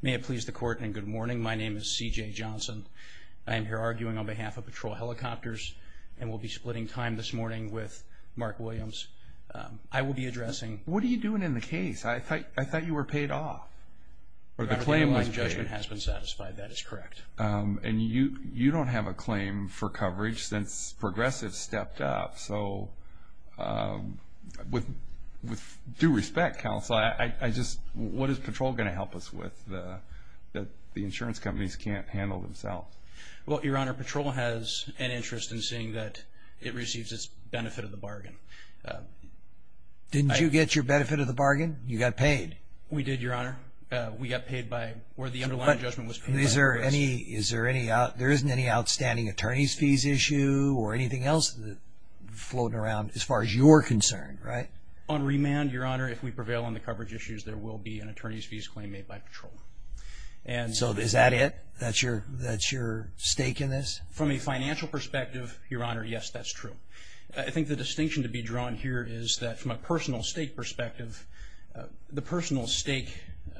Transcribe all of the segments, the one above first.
May it please the Court and good morning. My name is C.J. Johnson. I am here arguing on behalf of Patrol Helicopters and will be splitting time this morning with Mark Williams. I will be addressing... What are you doing in the case? I thought you were paid off. The claim on the judgment has been satisfied. That is correct. And you don't have a claim for coverage since Progressive stepped up. So with due respect, Counselor, what is Patrol going to help us with that the insurance companies can't handle themselves? Well, Your Honor, Patrol has an interest in seeing that it receives its benefit of the bargain. Didn't you get your benefit of the bargain? You got paid. We did, Your Honor. We got paid by... But there isn't any outstanding attorney's fees issue or anything else floating around as far as you're concerned, right? On remand, Your Honor, if we prevail on the coverage issues, there will be an attorney's fees claim made by Patrol. So is that it? That's your stake in this? From a financial perspective, Your Honor, yes, that's true. I think the distinction to be drawn here is that from a personal stake perspective, the personal stake...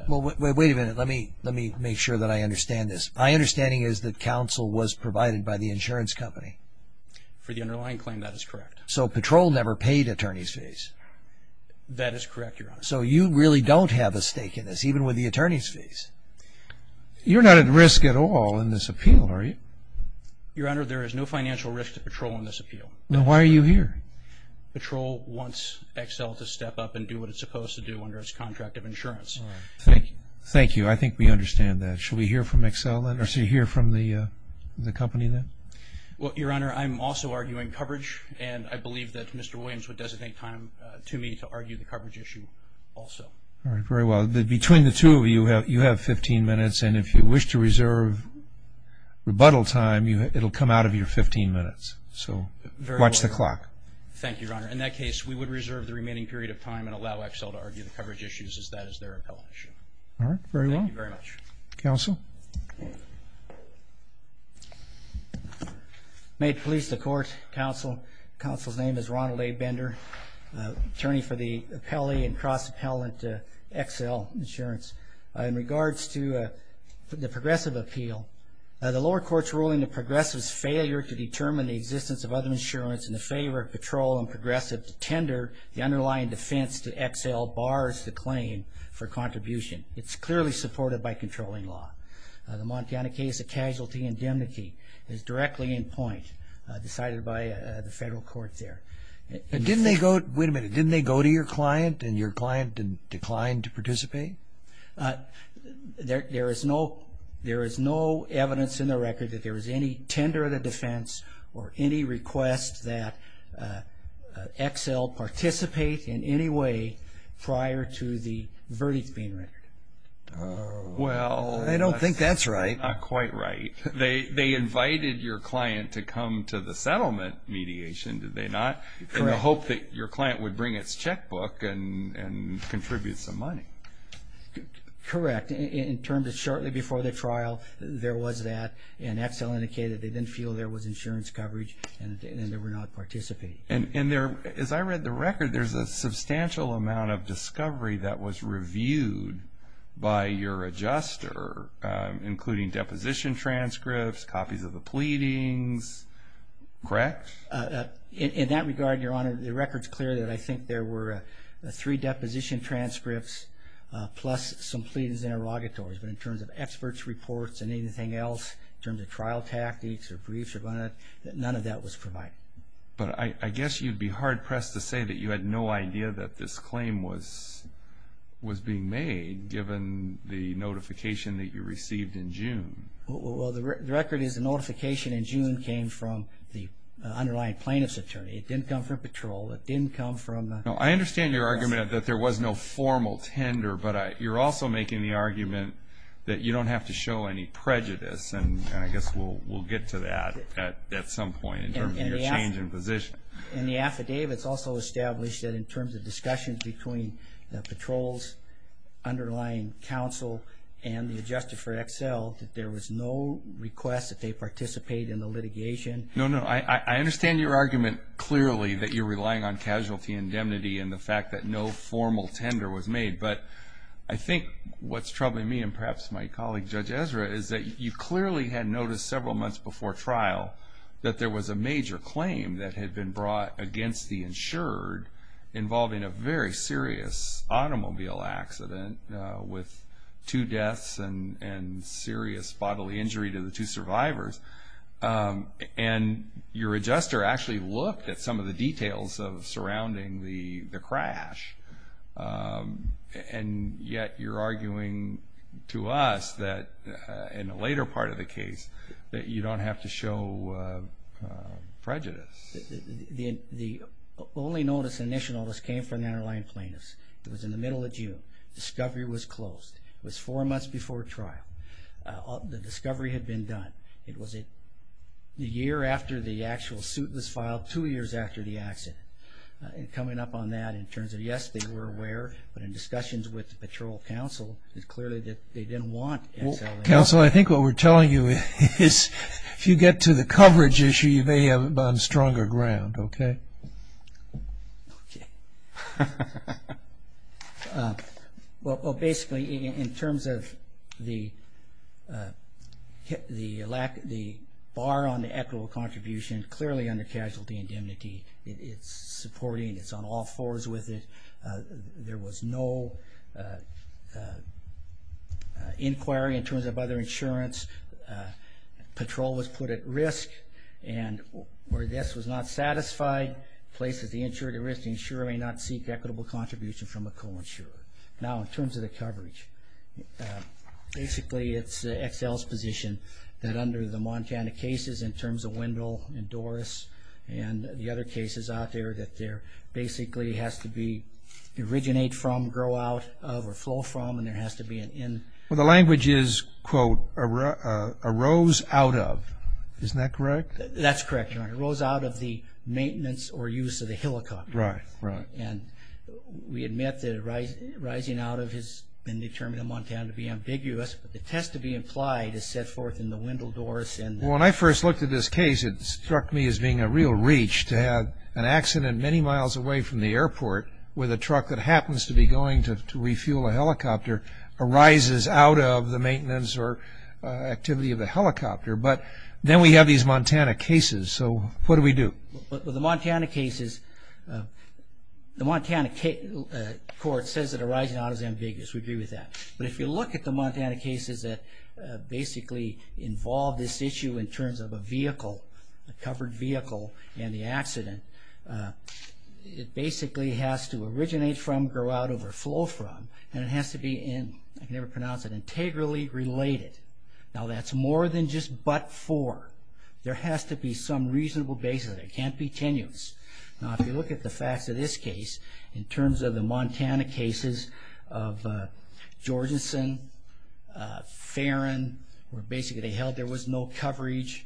Well, wait a minute. Let me make sure that I understand this. My understanding is that Counsel was provided by the insurance company. For the underlying claim, that is correct. So Patrol never paid attorney's fees? That is correct, Your Honor. So you really don't have a stake in this, even with the attorney's fees? You're not at risk at all in this appeal, are you? Your Honor, there is no financial risk to Patrol in this appeal. Then why are you here? Patrol wants Excel to step up and do what it's supposed to do under its contract of insurance. Thank you. I think we understand that. Should we hear from Excel then, or should we hear from the company then? Well, Your Honor, I'm also arguing coverage, and I believe that Mr. Williams would designate time to me to argue the coverage issue also. Very well. Between the two of you, you have 15 minutes, and if you wish to reserve rebuttal time, it'll come out of your 15 minutes. So watch the clock. Thank you, Your Honor. In that case, we would reserve the remaining period of time and allow Excel to argue the coverage issues as that is their appellate issue. All right. Very well. Thank you very much. Counsel? Made police to court, Counsel. Counsel's name is Ronald A. Bender, attorney for the appellee and cross-appellant to Excel Insurance. In regards to the progressive appeal, the lower court's ruling the progressive's failure to determine the existence of other insurance in the favor of patrol and progressive to tender the underlying defense to Excel bars the claim for contribution. It's clearly supported by controlling law. The Montana case of casualty indemnity is directly in point, decided by the federal court there. Wait a minute. Didn't they go to your client, and your client declined to participate? There is no evidence in the record that there was any tender of the defense or any request that Excel participate in any way prior to the verdict being rendered. I don't think that's right. Not quite right. They invited your client to come to the settlement mediation, did they not? Correct. In the hope that your client would bring its checkbook and contribute some money. Correct. In terms of shortly before the trial, there was that, and Excel indicated they didn't feel there was insurance coverage and they would not participate. As I read the record, there's a substantial amount of discovery that was reviewed by your adjuster, including deposition transcripts, copies of the pleadings. Correct? In that regard, Your Honor, the record's clear that I think there were three deposition transcripts plus some pleadings and interrogatories. But in terms of experts' reports and anything else, in terms of trial tactics or briefs, none of that was provided. But I guess you'd be hard-pressed to say that you had no idea that this claim was being made, given the notification that you received in June. The record is the notification in June came from the underlying plaintiff's attorney. It didn't come from patrol. It didn't come from the... I understand your argument that there was no formal tender, but you're also making the argument that you don't have to show any prejudice, and I guess we'll get to that at some point in terms of your change in position. In the affidavit, it's also established that in terms of discussions between patrols, the underlying counsel, and the adjuster for Excel, that there was no request that they participate in the litigation. No, no. I understand your argument clearly that you're relying on casualty indemnity and the fact that no formal tender was made. But I think what's troubling me, and perhaps my colleague Judge Ezra, is that you clearly had noticed several months before trial that there was a major claim that had been brought against the insured involving a very serious automobile accident with two deaths and serious bodily injury to the two survivors, and your adjuster actually looked at some of the details of surrounding the crash, and yet you're arguing to us that in a later part of the case that you don't have to show prejudice. The only notice, initial notice, came from the underlying plaintiffs. It was in the middle of June. Discovery was closed. It was four months before trial. The discovery had been done. It was a year after the actual suit was filed, two years after the accident. Coming up on that in terms of, yes, they were aware, but in discussions with the patrol counsel, it's clear that they didn't want Excel. Counsel, I think what we're telling you is if you get to the coverage issue, you may have stronger ground, okay? Okay. Well, basically, in terms of the bar on the equitable contribution, clearly under casualty indemnity, it's supporting, it's on all fours with it. There was no inquiry in terms of other insurance. Patrol was put at risk, and where this was not satisfied, places the insurer at risk. The insurer may not seek equitable contribution from a co-insurer. Now, in terms of the coverage, basically it's Excel's position that under the Montana cases, in terms of Wendell and Doris and the other cases out there, that there basically has to be originate from, grow out of, or flow from, and there has to be an end. Well, the language is, quote, arose out of. Isn't that correct? That's correct, Your Honor. It arose out of the maintenance or use of the helicopter. Right, right. And we admit that arising out of has been determined in Montana to be ambiguous, but the test to be implied is set forth in the Wendell, Doris, and the others. Well, when I first looked at this case, it struck me as being a real reach to have an accident many miles away from the airport where the truck that happens to be going to refuel a helicopter arises out of the maintenance or activity of a helicopter. But then we have these Montana cases, so what do we do? Well, the Montana cases, the Montana court says that arising out is ambiguous. We agree with that. But if you look at the Montana cases that basically involve this issue in terms of a vehicle, a covered vehicle, and the accident, it basically has to originate from, grow out of, or flow from, and it has to be, I can never pronounce it, integrally related. Now, that's more than just but for. There has to be some reasonable basis. It can't be tenuous. Now, if you look at the facts of this case, in terms of the Montana cases of Georgenson, Ferrin, where basically they held there was no coverage,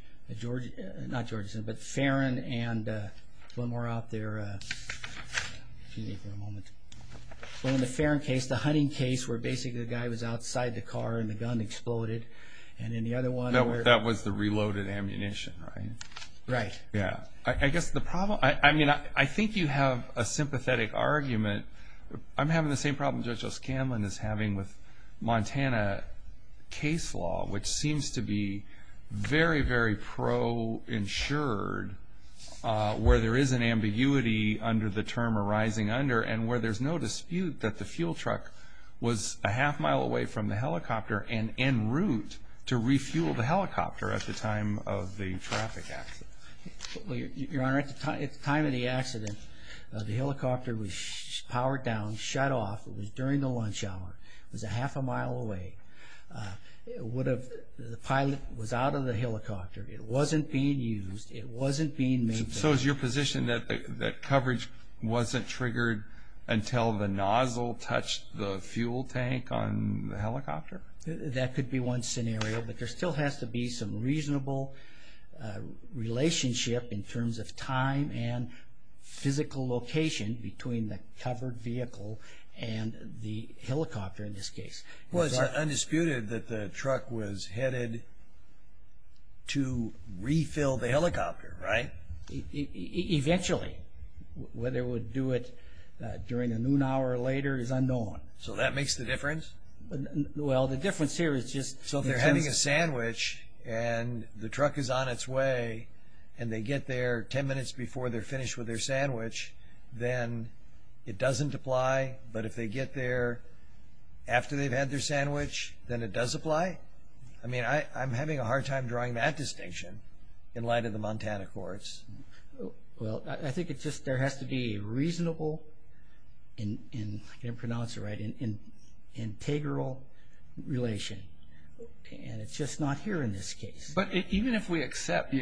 not Georgenson, but Ferrin, and one more out there. Excuse me for a moment. Well, in the Ferrin case, the hunting case, where basically the guy was outside the car and the gun exploded, and in the other one where- That was the reloaded ammunition, right? Right. Yeah. I guess the problem, I mean, I think you have a sympathetic argument. I'm having the same problem Judge O'Scanlan is having with Montana case law, which seems to be very, very pro-insured, where there is an ambiguity under the term arising under and where there's no dispute that the fuel truck was a half mile away from the helicopter and en route to refuel the helicopter at the time of the traffic accident. Your Honor, at the time of the accident, the helicopter was powered down, shut off. It was during the lunch hour. It was a half a mile away. The pilot was out of the helicopter. It wasn't being used. It wasn't being made available. So is your position that coverage wasn't triggered until the nozzle touched the fuel tank on the helicopter? That could be one scenario, but there still has to be some reasonable relationship in terms of time and physical location between the covered vehicle and the helicopter in this case. Well, it's undisputed that the truck was headed to refill the helicopter, right? Eventually. Whether it would do it during the noon hour or later is unknown. So that makes the difference? Well, the difference here is just in terms of… So they're having a sandwich and the truck is on its way and they get there 10 minutes before they're finished with their sandwich, then it doesn't apply. But if they get there after they've had their sandwich, then it does apply? I mean, I'm having a hard time drawing that distinction in light of the Montana courts. Well, I think it's just there has to be a reasonable and I can't pronounce it right, integral relation. And it's just not here in this case. But even if we accept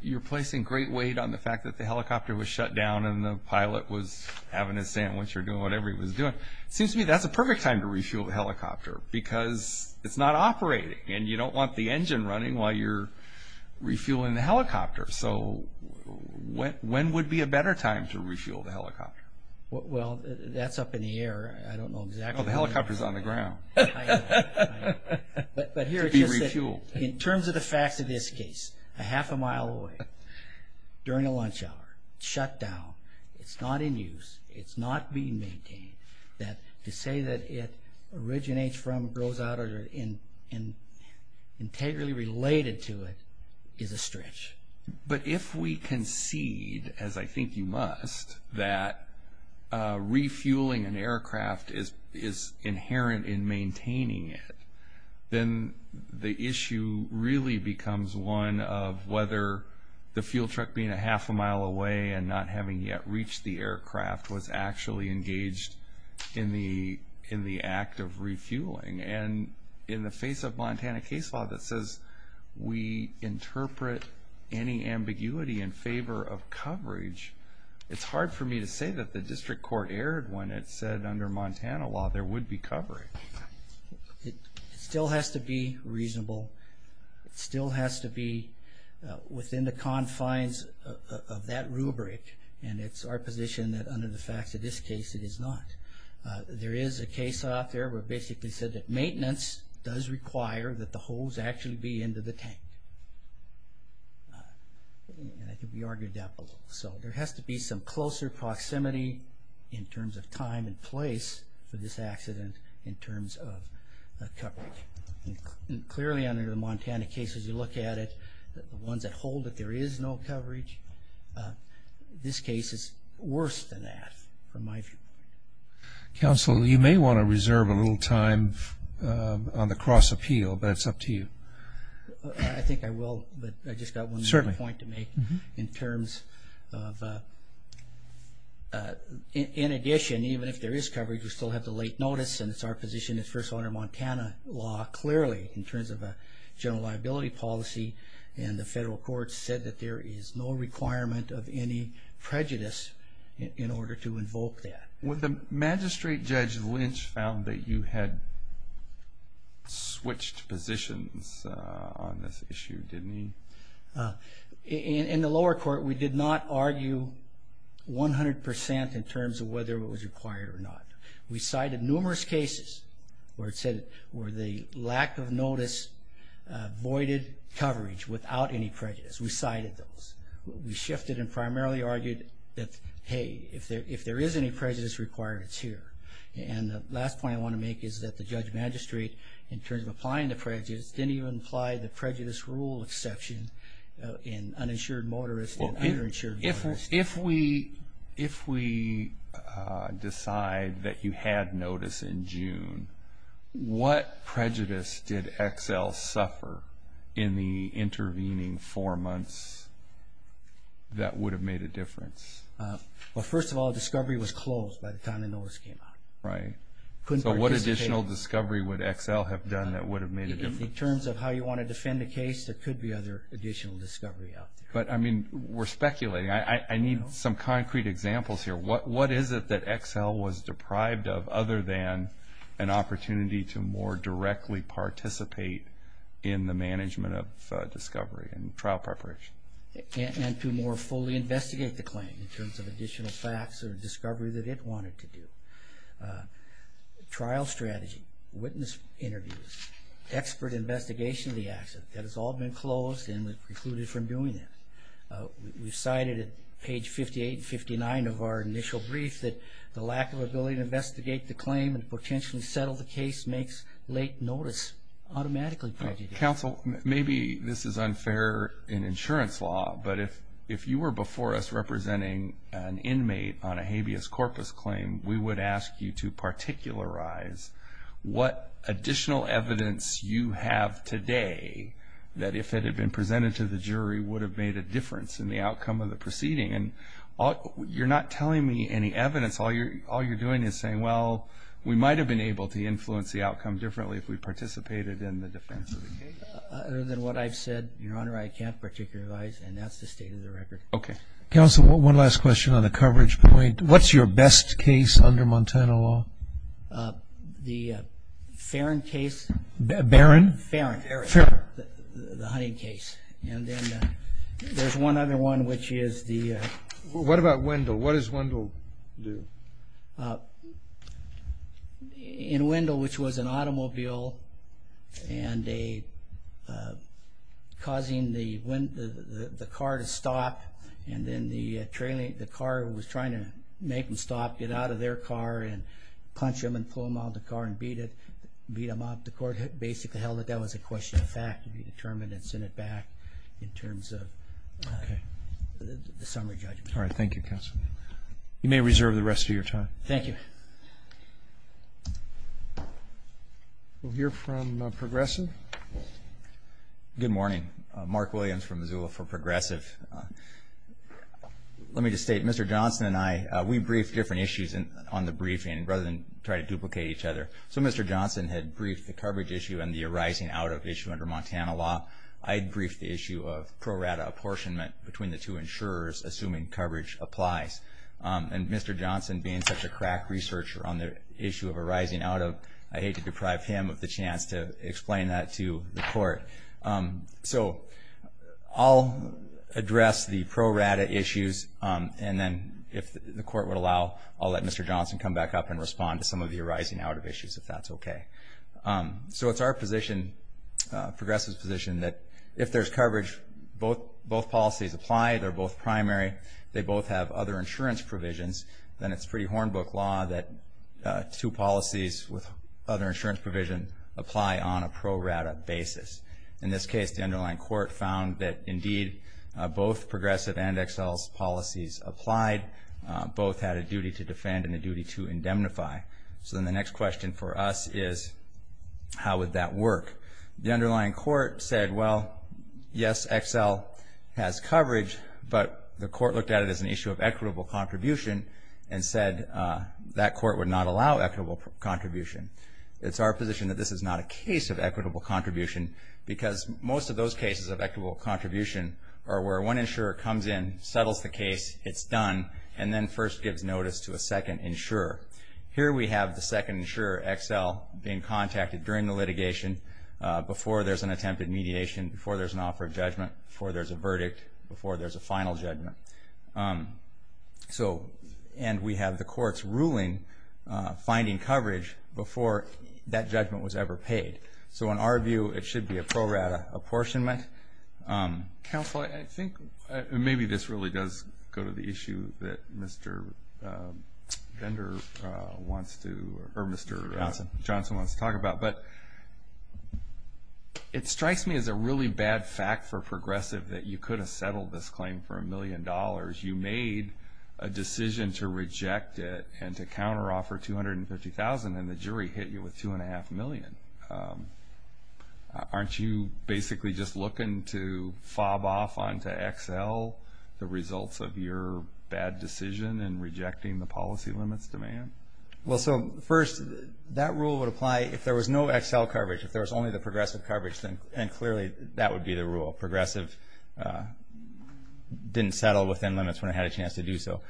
you're placing great weight on the fact that the helicopter was shut down and the pilot was having a sandwich or doing whatever he was doing, it seems to me that's a perfect time to refuel the helicopter because it's not operating and you don't want the engine running while you're refueling the helicopter. So when would be a better time to refuel the helicopter? Well, that's up in the air. I don't know exactly. The helicopter's on the ground. To be refueled. In terms of the facts of this case, a half a mile away, during a lunch hour, shut down, it's not in use, it's not being maintained. To say that it originates from, grows out of, and integrally related to it is a stretch. But if we concede, as I think you must, that refueling an aircraft is inherent in maintaining it, then the issue really becomes one of whether the fuel truck being a half a mile away and not having yet reached the aircraft was actually engaged in the act of refueling. And in the face of Montana case law that says we interpret any ambiguity in favor of coverage, it's hard for me to say that the district court erred when it said under Montana law there would be coverage. It still has to be reasonable. It still has to be within the confines of that rubric. And it's our position that under the facts of this case, it is not. There is a case out there where it basically said that maintenance does require that the hose actually be into the tank. And I think we argued that before. So there has to be some closer proximity in terms of time and place for this accident in terms of coverage. And clearly under the Montana case, as you look at it, the ones that hold that there is no coverage, this case is worse than that from my view. Counsel, you may want to reserve a little time on the cross appeal, but it's up to you. I think I will, but I just got one more point to make in terms of in addition, even if there is coverage, we still have the late notice and it's our position it's first under Montana law clearly in terms of a general liability policy. And the federal court said that there is no requirement of any prejudice in order to invoke that. The magistrate judge Lynch found that you had switched positions on this issue, didn't he? In the lower court, we did not argue 100% in terms of whether it was required or not. We cited numerous cases where it said, where the lack of notice voided coverage without any prejudice. We cited those. We shifted and primarily argued that, hey, if there is any prejudice required, it's here. And the last point I want to make is that the judge magistrate, in terms of applying the prejudice, didn't even apply the prejudice rule exception in uninsured motorists and underinsured motorists. If we decide that you had notice in June, what prejudice did Excel suffer in the intervening four months that would have made a difference? Well, first of all, discovery was closed by the time the notice came out. Right. Couldn't participate. So what additional discovery would Excel have done that would have made a difference? In terms of how you want to defend a case, there could be other additional discovery out there. But, I mean, we're speculating. I need some concrete examples here. What is it that Excel was deprived of other than an opportunity to more directly participate in the management of discovery and trial preparation? And to more fully investigate the claim in terms of additional facts or discovery that it wanted to do. Trial strategy, witness interviews, expert investigation of the accident, that has all been closed and was precluded from doing that. We cited at page 58 and 59 of our initial brief that the lack of ability to investigate the claim and potentially settle the case makes late notice automatically prejudice. Counsel, maybe this is unfair in insurance law, but if you were before us representing an inmate on a habeas corpus claim, we would ask you to particularize what additional evidence you have today that if it had been presented to the jury would have made a difference in the outcome of the proceeding. And you're not telling me any evidence. All you're doing is saying, well, we might have been able to influence the outcome differently if we participated in the defense of the case. Other than what I've said, Your Honor, I can't particularize, and that's the state of the record. Okay. Counsel, one last question on the coverage point. What's your best case under Montana law? The Farron case. Barron? Farron, the hunting case. And then there's one other one, which is the – What about Wendell? What does Wendell do? In Wendell, which was an automobile and causing the car to stop, and then the car was trying to make them stop, get out of their car, and punch them and pull them out of the car and beat them up. The court basically held that that was a question of fact to be determined and sent it back in terms of the summary judgment. All right. Thank you, Counsel. You may reserve the rest of your time. Thank you. We'll hear from Progressive. Good morning. Mark Williams from Missoula for Progressive. Let me just state, Mr. Johnson and I, we briefed different issues on the briefing rather than try to duplicate each other. So Mr. Johnson had briefed the coverage issue and the arising out of issue under Montana law. I had briefed the issue of pro rata apportionment between the two insurers, assuming coverage applies. And Mr. Johnson, being such a crack researcher on the issue of arising out of, I hate to deprive him of the chance to explain that to the court. So I'll address the pro rata issues, and then if the court would allow, I'll let Mr. Johnson come back up and respond to some of the arising out of issues, if that's okay. So it's our position, Progressive's position, that if there's coverage, if both policies apply, they're both primary, they both have other insurance provisions, then it's pretty hornbook law that two policies with other insurance provision apply on a pro rata basis. In this case, the underlying court found that, indeed, both Progressive and Excel's policies applied. Both had a duty to defend and a duty to indemnify. So then the next question for us is, how would that work? The underlying court said, well, yes, Excel has coverage, but the court looked at it as an issue of equitable contribution and said that court would not allow equitable contribution. It's our position that this is not a case of equitable contribution because most of those cases of equitable contribution are where one insurer comes in, settles the case, it's done, and then first gives notice to a second insurer. Here we have the second insurer, Excel, being contacted during the litigation before there's an attempted mediation, before there's an offer of judgment, before there's a verdict, before there's a final judgment. And we have the court's ruling finding coverage before that judgment was ever paid. So in our view, it should be a pro rata apportionment. Counsel, I think maybe this really does go to the issue that Mr. Vendor wants to, or Mr. Johnson wants to talk about. But it strikes me as a really bad fact for Progressive that you could have settled this claim for a million dollars. You made a decision to reject it and to counteroffer $250,000, and the jury hit you with $2.5 million. Aren't you basically just looking to fob off onto Excel the results of your bad decision in rejecting the policy limits demand? Well, so first, that rule would apply if there was no Excel coverage. If there was only the Progressive coverage, then clearly that would be the rule. Progressive didn't settle within limits when it had a chance to do so.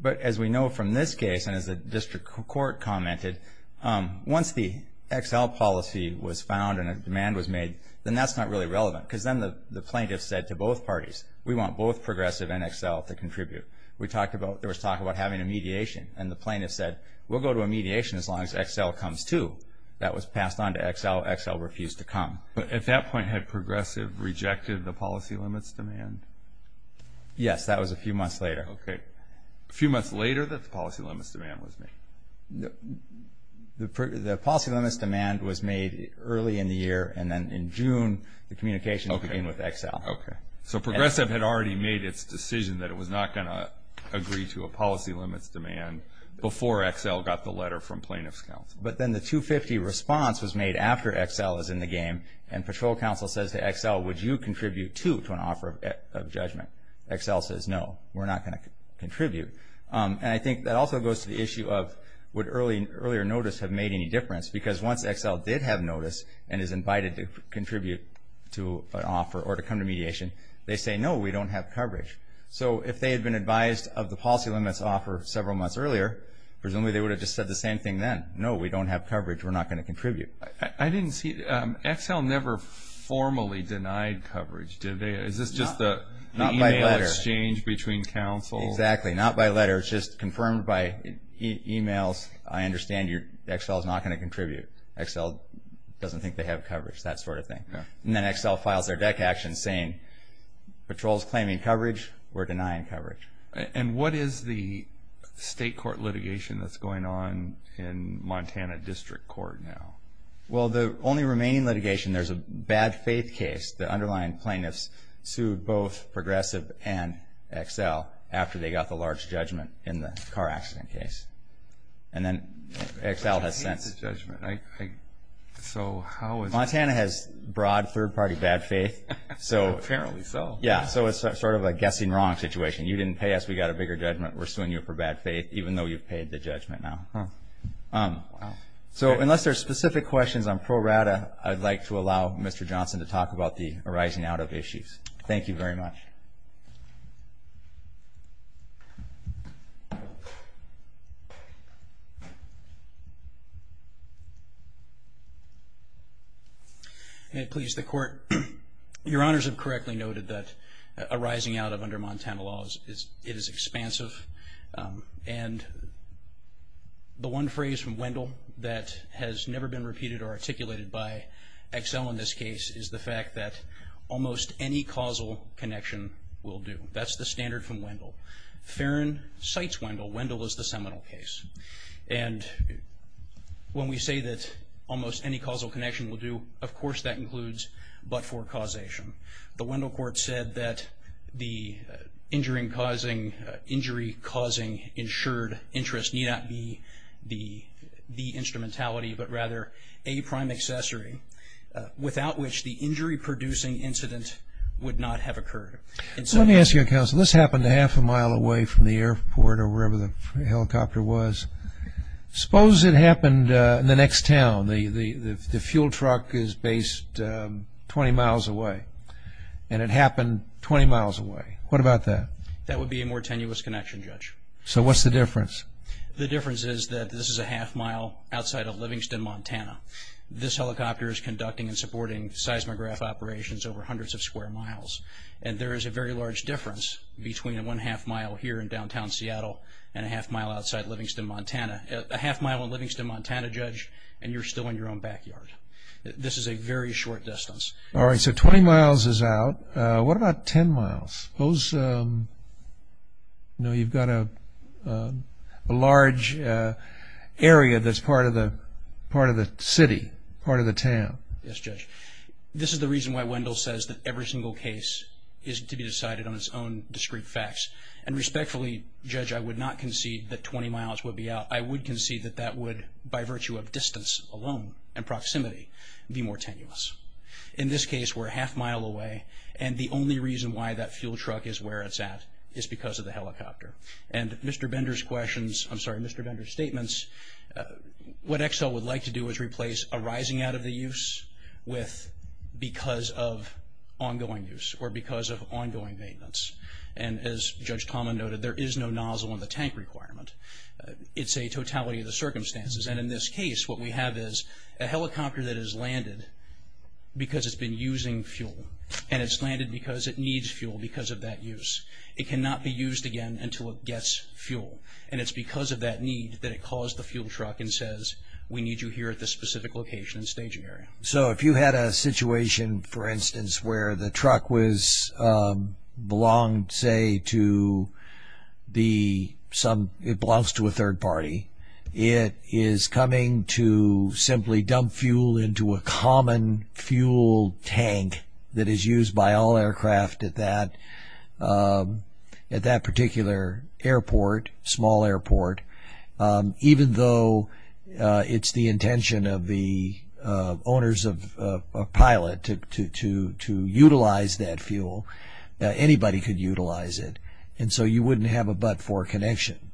But as we know from this case, and as the district court commented, once the Excel policy was found and a demand was made, then that's not really relevant because then the plaintiff said to both parties, we want both Progressive and Excel to contribute. There was talk about having a mediation, and the plaintiff said, we'll go to a mediation as long as Excel comes too. That was passed on to Excel. Excel refused to come. But at that point, had Progressive rejected the policy limits demand? Yes, that was a few months later. Okay. A few months later that the policy limits demand was made? The policy limits demand was made early in the year, and then in June the communication began with Excel. Okay. So Progressive had already made its decision that it was not going to agree to a policy limits demand before Excel got the letter from plaintiff's counsel. But then the 250 response was made after Excel was in the game, and patrol counsel says to Excel, would you contribute too to an offer of judgment? Excel says, no, we're not going to contribute. And I think that also goes to the issue of would earlier notice have made any difference? Because once Excel did have notice and is invited to contribute to an offer or to come to mediation, they say, no, we don't have coverage. So if they had been advised of the policy limits offer several months earlier, presumably they would have just said the same thing then. No, we don't have coverage. We're not going to contribute. I didn't see. Excel never formally denied coverage, did they? Is this just the email exchange between counsel? Exactly. Not by letter. It's just confirmed by emails. I understand Excel is not going to contribute. Excel doesn't think they have coverage, that sort of thing. And then Excel files their deck action saying patrol is claiming coverage. We're denying coverage. And what is the state court litigation that's going on in Montana District Court now? Well, the only remaining litigation, there's a bad faith case. The underlying plaintiffs sued both Progressive and Excel after they got the large judgment in the car accident case. And then Excel has since. So how is this? Montana has broad third-party bad faith. Apparently so. Yeah, so it's sort of a guessing wrong situation. You didn't pay us. We got a bigger judgment. We're suing you for bad faith, even though you've paid the judgment now. Wow. So unless there are specific questions on pro rata, I'd like to allow Mr. Johnson to talk about the arising out of issues. Thank you very much. May it please the Court. Your Honors have correctly noted that arising out of under Montana laws, it is expansive. And the one phrase from Wendell that has never been repeated or articulated by Excel in this case is the fact that almost any causal connection will do. That's the standard from Wendell. Farron cites Wendell. Wendell is the seminal case. And when we say that almost any causal connection will do, of course that includes but for causation. The Wendell Court said that the injury-causing insured interest need not be the instrumentality but rather a prime accessory without which the injury-producing incident would not have occurred. Let me ask you, Counsel. This happened a half a mile away from the airport or wherever the helicopter was. Suppose it happened in the next town. The fuel truck is based 20 miles away. And it happened 20 miles away. What about that? That would be a more tenuous connection, Judge. So what's the difference? The difference is that this is a half mile outside of Livingston, Montana. This helicopter is conducting and supporting seismograph operations over hundreds of square miles. And there is a very large difference between a one-half mile here in downtown Seattle and a half mile outside Livingston, Montana. A half mile in Livingston, Montana, Judge, and you're still in your own backyard. This is a very short distance. All right. So 20 miles is out. What about 10 miles? Those, you know, you've got a large area that's part of the city, part of the town. Yes, Judge. This is the reason why Wendell says that every single case is to be decided on its own discrete facts. And respectfully, Judge, I would not concede that 20 miles would be out. I would concede that that would, by virtue of distance alone and proximity, be more tenuous. In this case, we're a half mile away, and the only reason why that fuel truck is where it's at is because of the helicopter. And Mr. Bender's questions, I'm sorry, Mr. Bender's statements, what EXSL would like to do is replace a rising out of the use with because of ongoing use or because of ongoing maintenance. And as Judge Tomlin noted, there is no nozzle in the tank requirement. It's a totality of the circumstances. And in this case, what we have is a helicopter that has landed because it's been using fuel, and it's landed because it needs fuel because of that use. It cannot be used again until it gets fuel. And it's because of that need that it calls the fuel truck and says, we need you here at this specific location and staging area. So if you had a situation, for instance, where the truck belonged, say, to a third party, it is coming to simply dump fuel into a common fuel tank that is used by all aircraft at that particular airport, even though it's the intention of the owners of Pilot to utilize that fuel. Anybody could utilize it. And so you wouldn't have a but-for connection.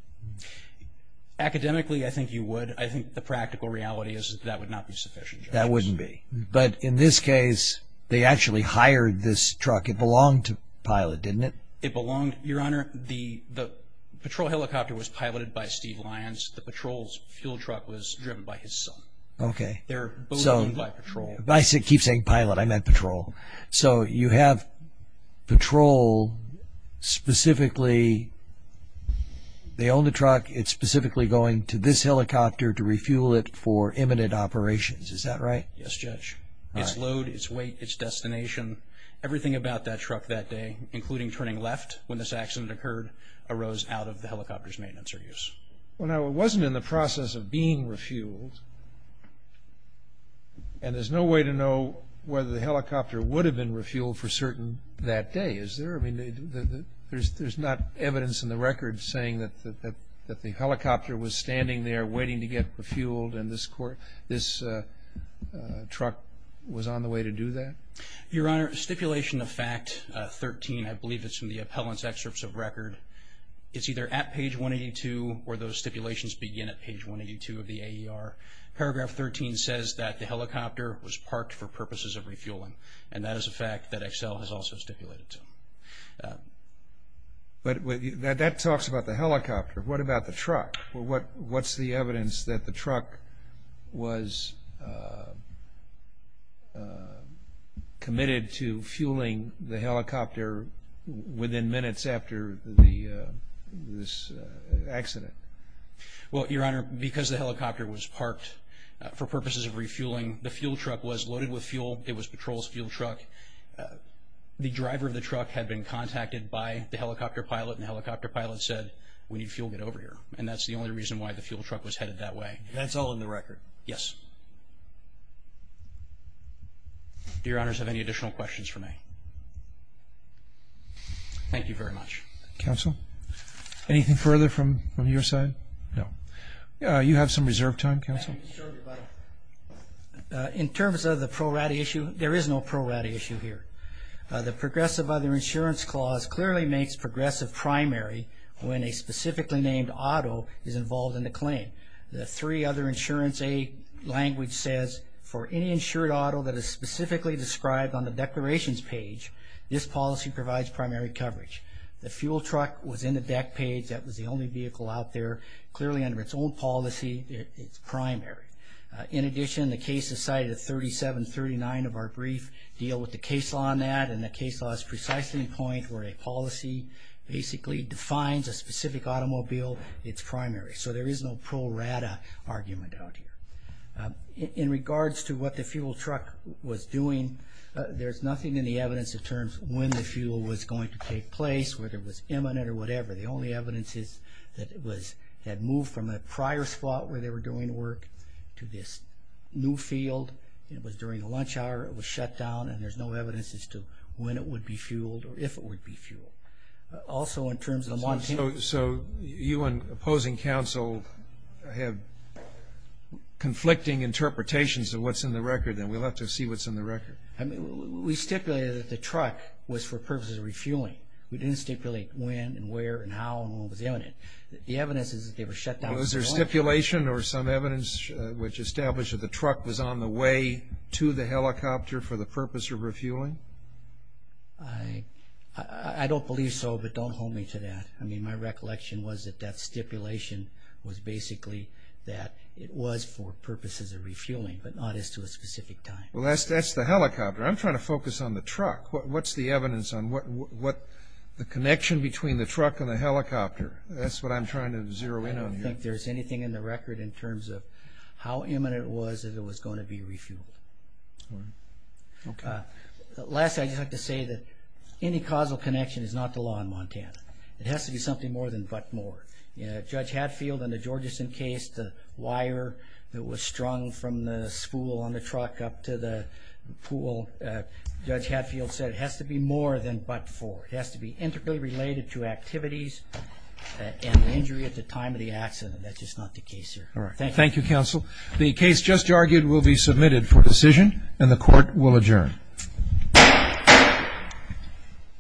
Academically, I think you would. I think the practical reality is that would not be sufficient. That wouldn't be. But in this case, they actually hired this truck. It belonged to Pilot, didn't it? It belonged. Your Honor, the Patrol helicopter was piloted by Steve Lyons. The Patrol's fuel truck was driven by his son. Okay. They're both owned by Patrol. I keep saying Pilot. I meant Patrol. So you have Patrol specifically. They own the truck. It's specifically going to this helicopter to refuel it for imminent operations. Is that right? Yes, Judge. Its load, its weight, its destination, everything about that truck that day, including turning left when this accident occurred, arose out of the helicopter's maintenance or use. Well, now, it wasn't in the process of being refueled. And there's no way to know whether the helicopter would have been refueled for certain that day, is there? I mean, there's not evidence in the record saying that the helicopter was standing there waiting to get refueled and this truck was on the way to do that? Your Honor, stipulation of fact 13, I believe it's in the appellant's excerpts of record. It's either at page 182 or those stipulations begin at page 182 of the AER. Paragraph 13 says that the helicopter was parked for purposes of refueling, and that is a fact that Excel has also stipulated. What about the truck? What's the evidence that the truck was committed to fueling the helicopter within minutes after this accident? Well, Your Honor, because the helicopter was parked for purposes of refueling, the fuel truck was loaded with fuel. It was patrol's fuel truck. The driver of the truck had been contacted by the helicopter pilot, and the helicopter pilot said, we need fuel to get over here, and that's the only reason why the fuel truck was headed that way. That's all in the record? Yes. Do Your Honors have any additional questions for me? Thank you very much. Counsel, anything further from your side? No. You have some reserved time, Counsel. In terms of the pro rata issue, there is no pro rata issue here. The progressive other insurance clause clearly makes progressive primary when a specifically named auto is involved in the claim. The three other insurance A language says, for any insured auto that is specifically described on the declarations page, this policy provides primary coverage. The fuel truck was in the deck page. That was the only vehicle out there. Clearly under its own policy, it's primary. In addition, the case is cited at 3739 of our brief. Deal with the case law on that, and the case law is precisely the point where a policy basically defines a specific automobile. It's primary. So there is no pro rata argument out here. In regards to what the fuel truck was doing, there's nothing in the evidence in terms of when the fuel was going to take place, whether it was imminent or whatever. The only evidence is that it had moved from a prior spot where they were doing work to this new field. It was during lunch hour. It was shut down, and there's no evidence as to when it would be fueled or if it would be fueled. Also, in terms of the Montana. So you and opposing counsel have conflicting interpretations of what's in the record, and we'll have to see what's in the record. We stipulated that the truck was for purposes of refueling. We didn't stipulate when and where and how and when it was imminent. The evidence is that they were shut down. Was there stipulation or some evidence which established that the truck was on the way to the helicopter for the purpose of refueling? I don't believe so, but don't hold me to that. I mean, my recollection was that that stipulation was basically that it was for purposes of refueling, but not as to a specific time. Well, that's the helicopter. I'm trying to focus on the truck. What's the evidence on what the connection between the truck and the helicopter? That's what I'm trying to zero in on here. I don't think there's anything in the record in terms of how imminent it was that it was going to be refueled. All right. Okay. Lastly, I'd just like to say that any causal connection is not the law in Montana. It has to be something more than but more. Judge Hadfield in the Georgeson case, the wire that was strung from the spool on the truck up to the pool, Judge Hadfield said it has to be more than but for. It has to be integrally related to activities and injury at the time of the accident. That's just not the case here. All right. Thank you. Thank you, Counsel. The case just argued will be submitted for decision, and the Court will adjourn.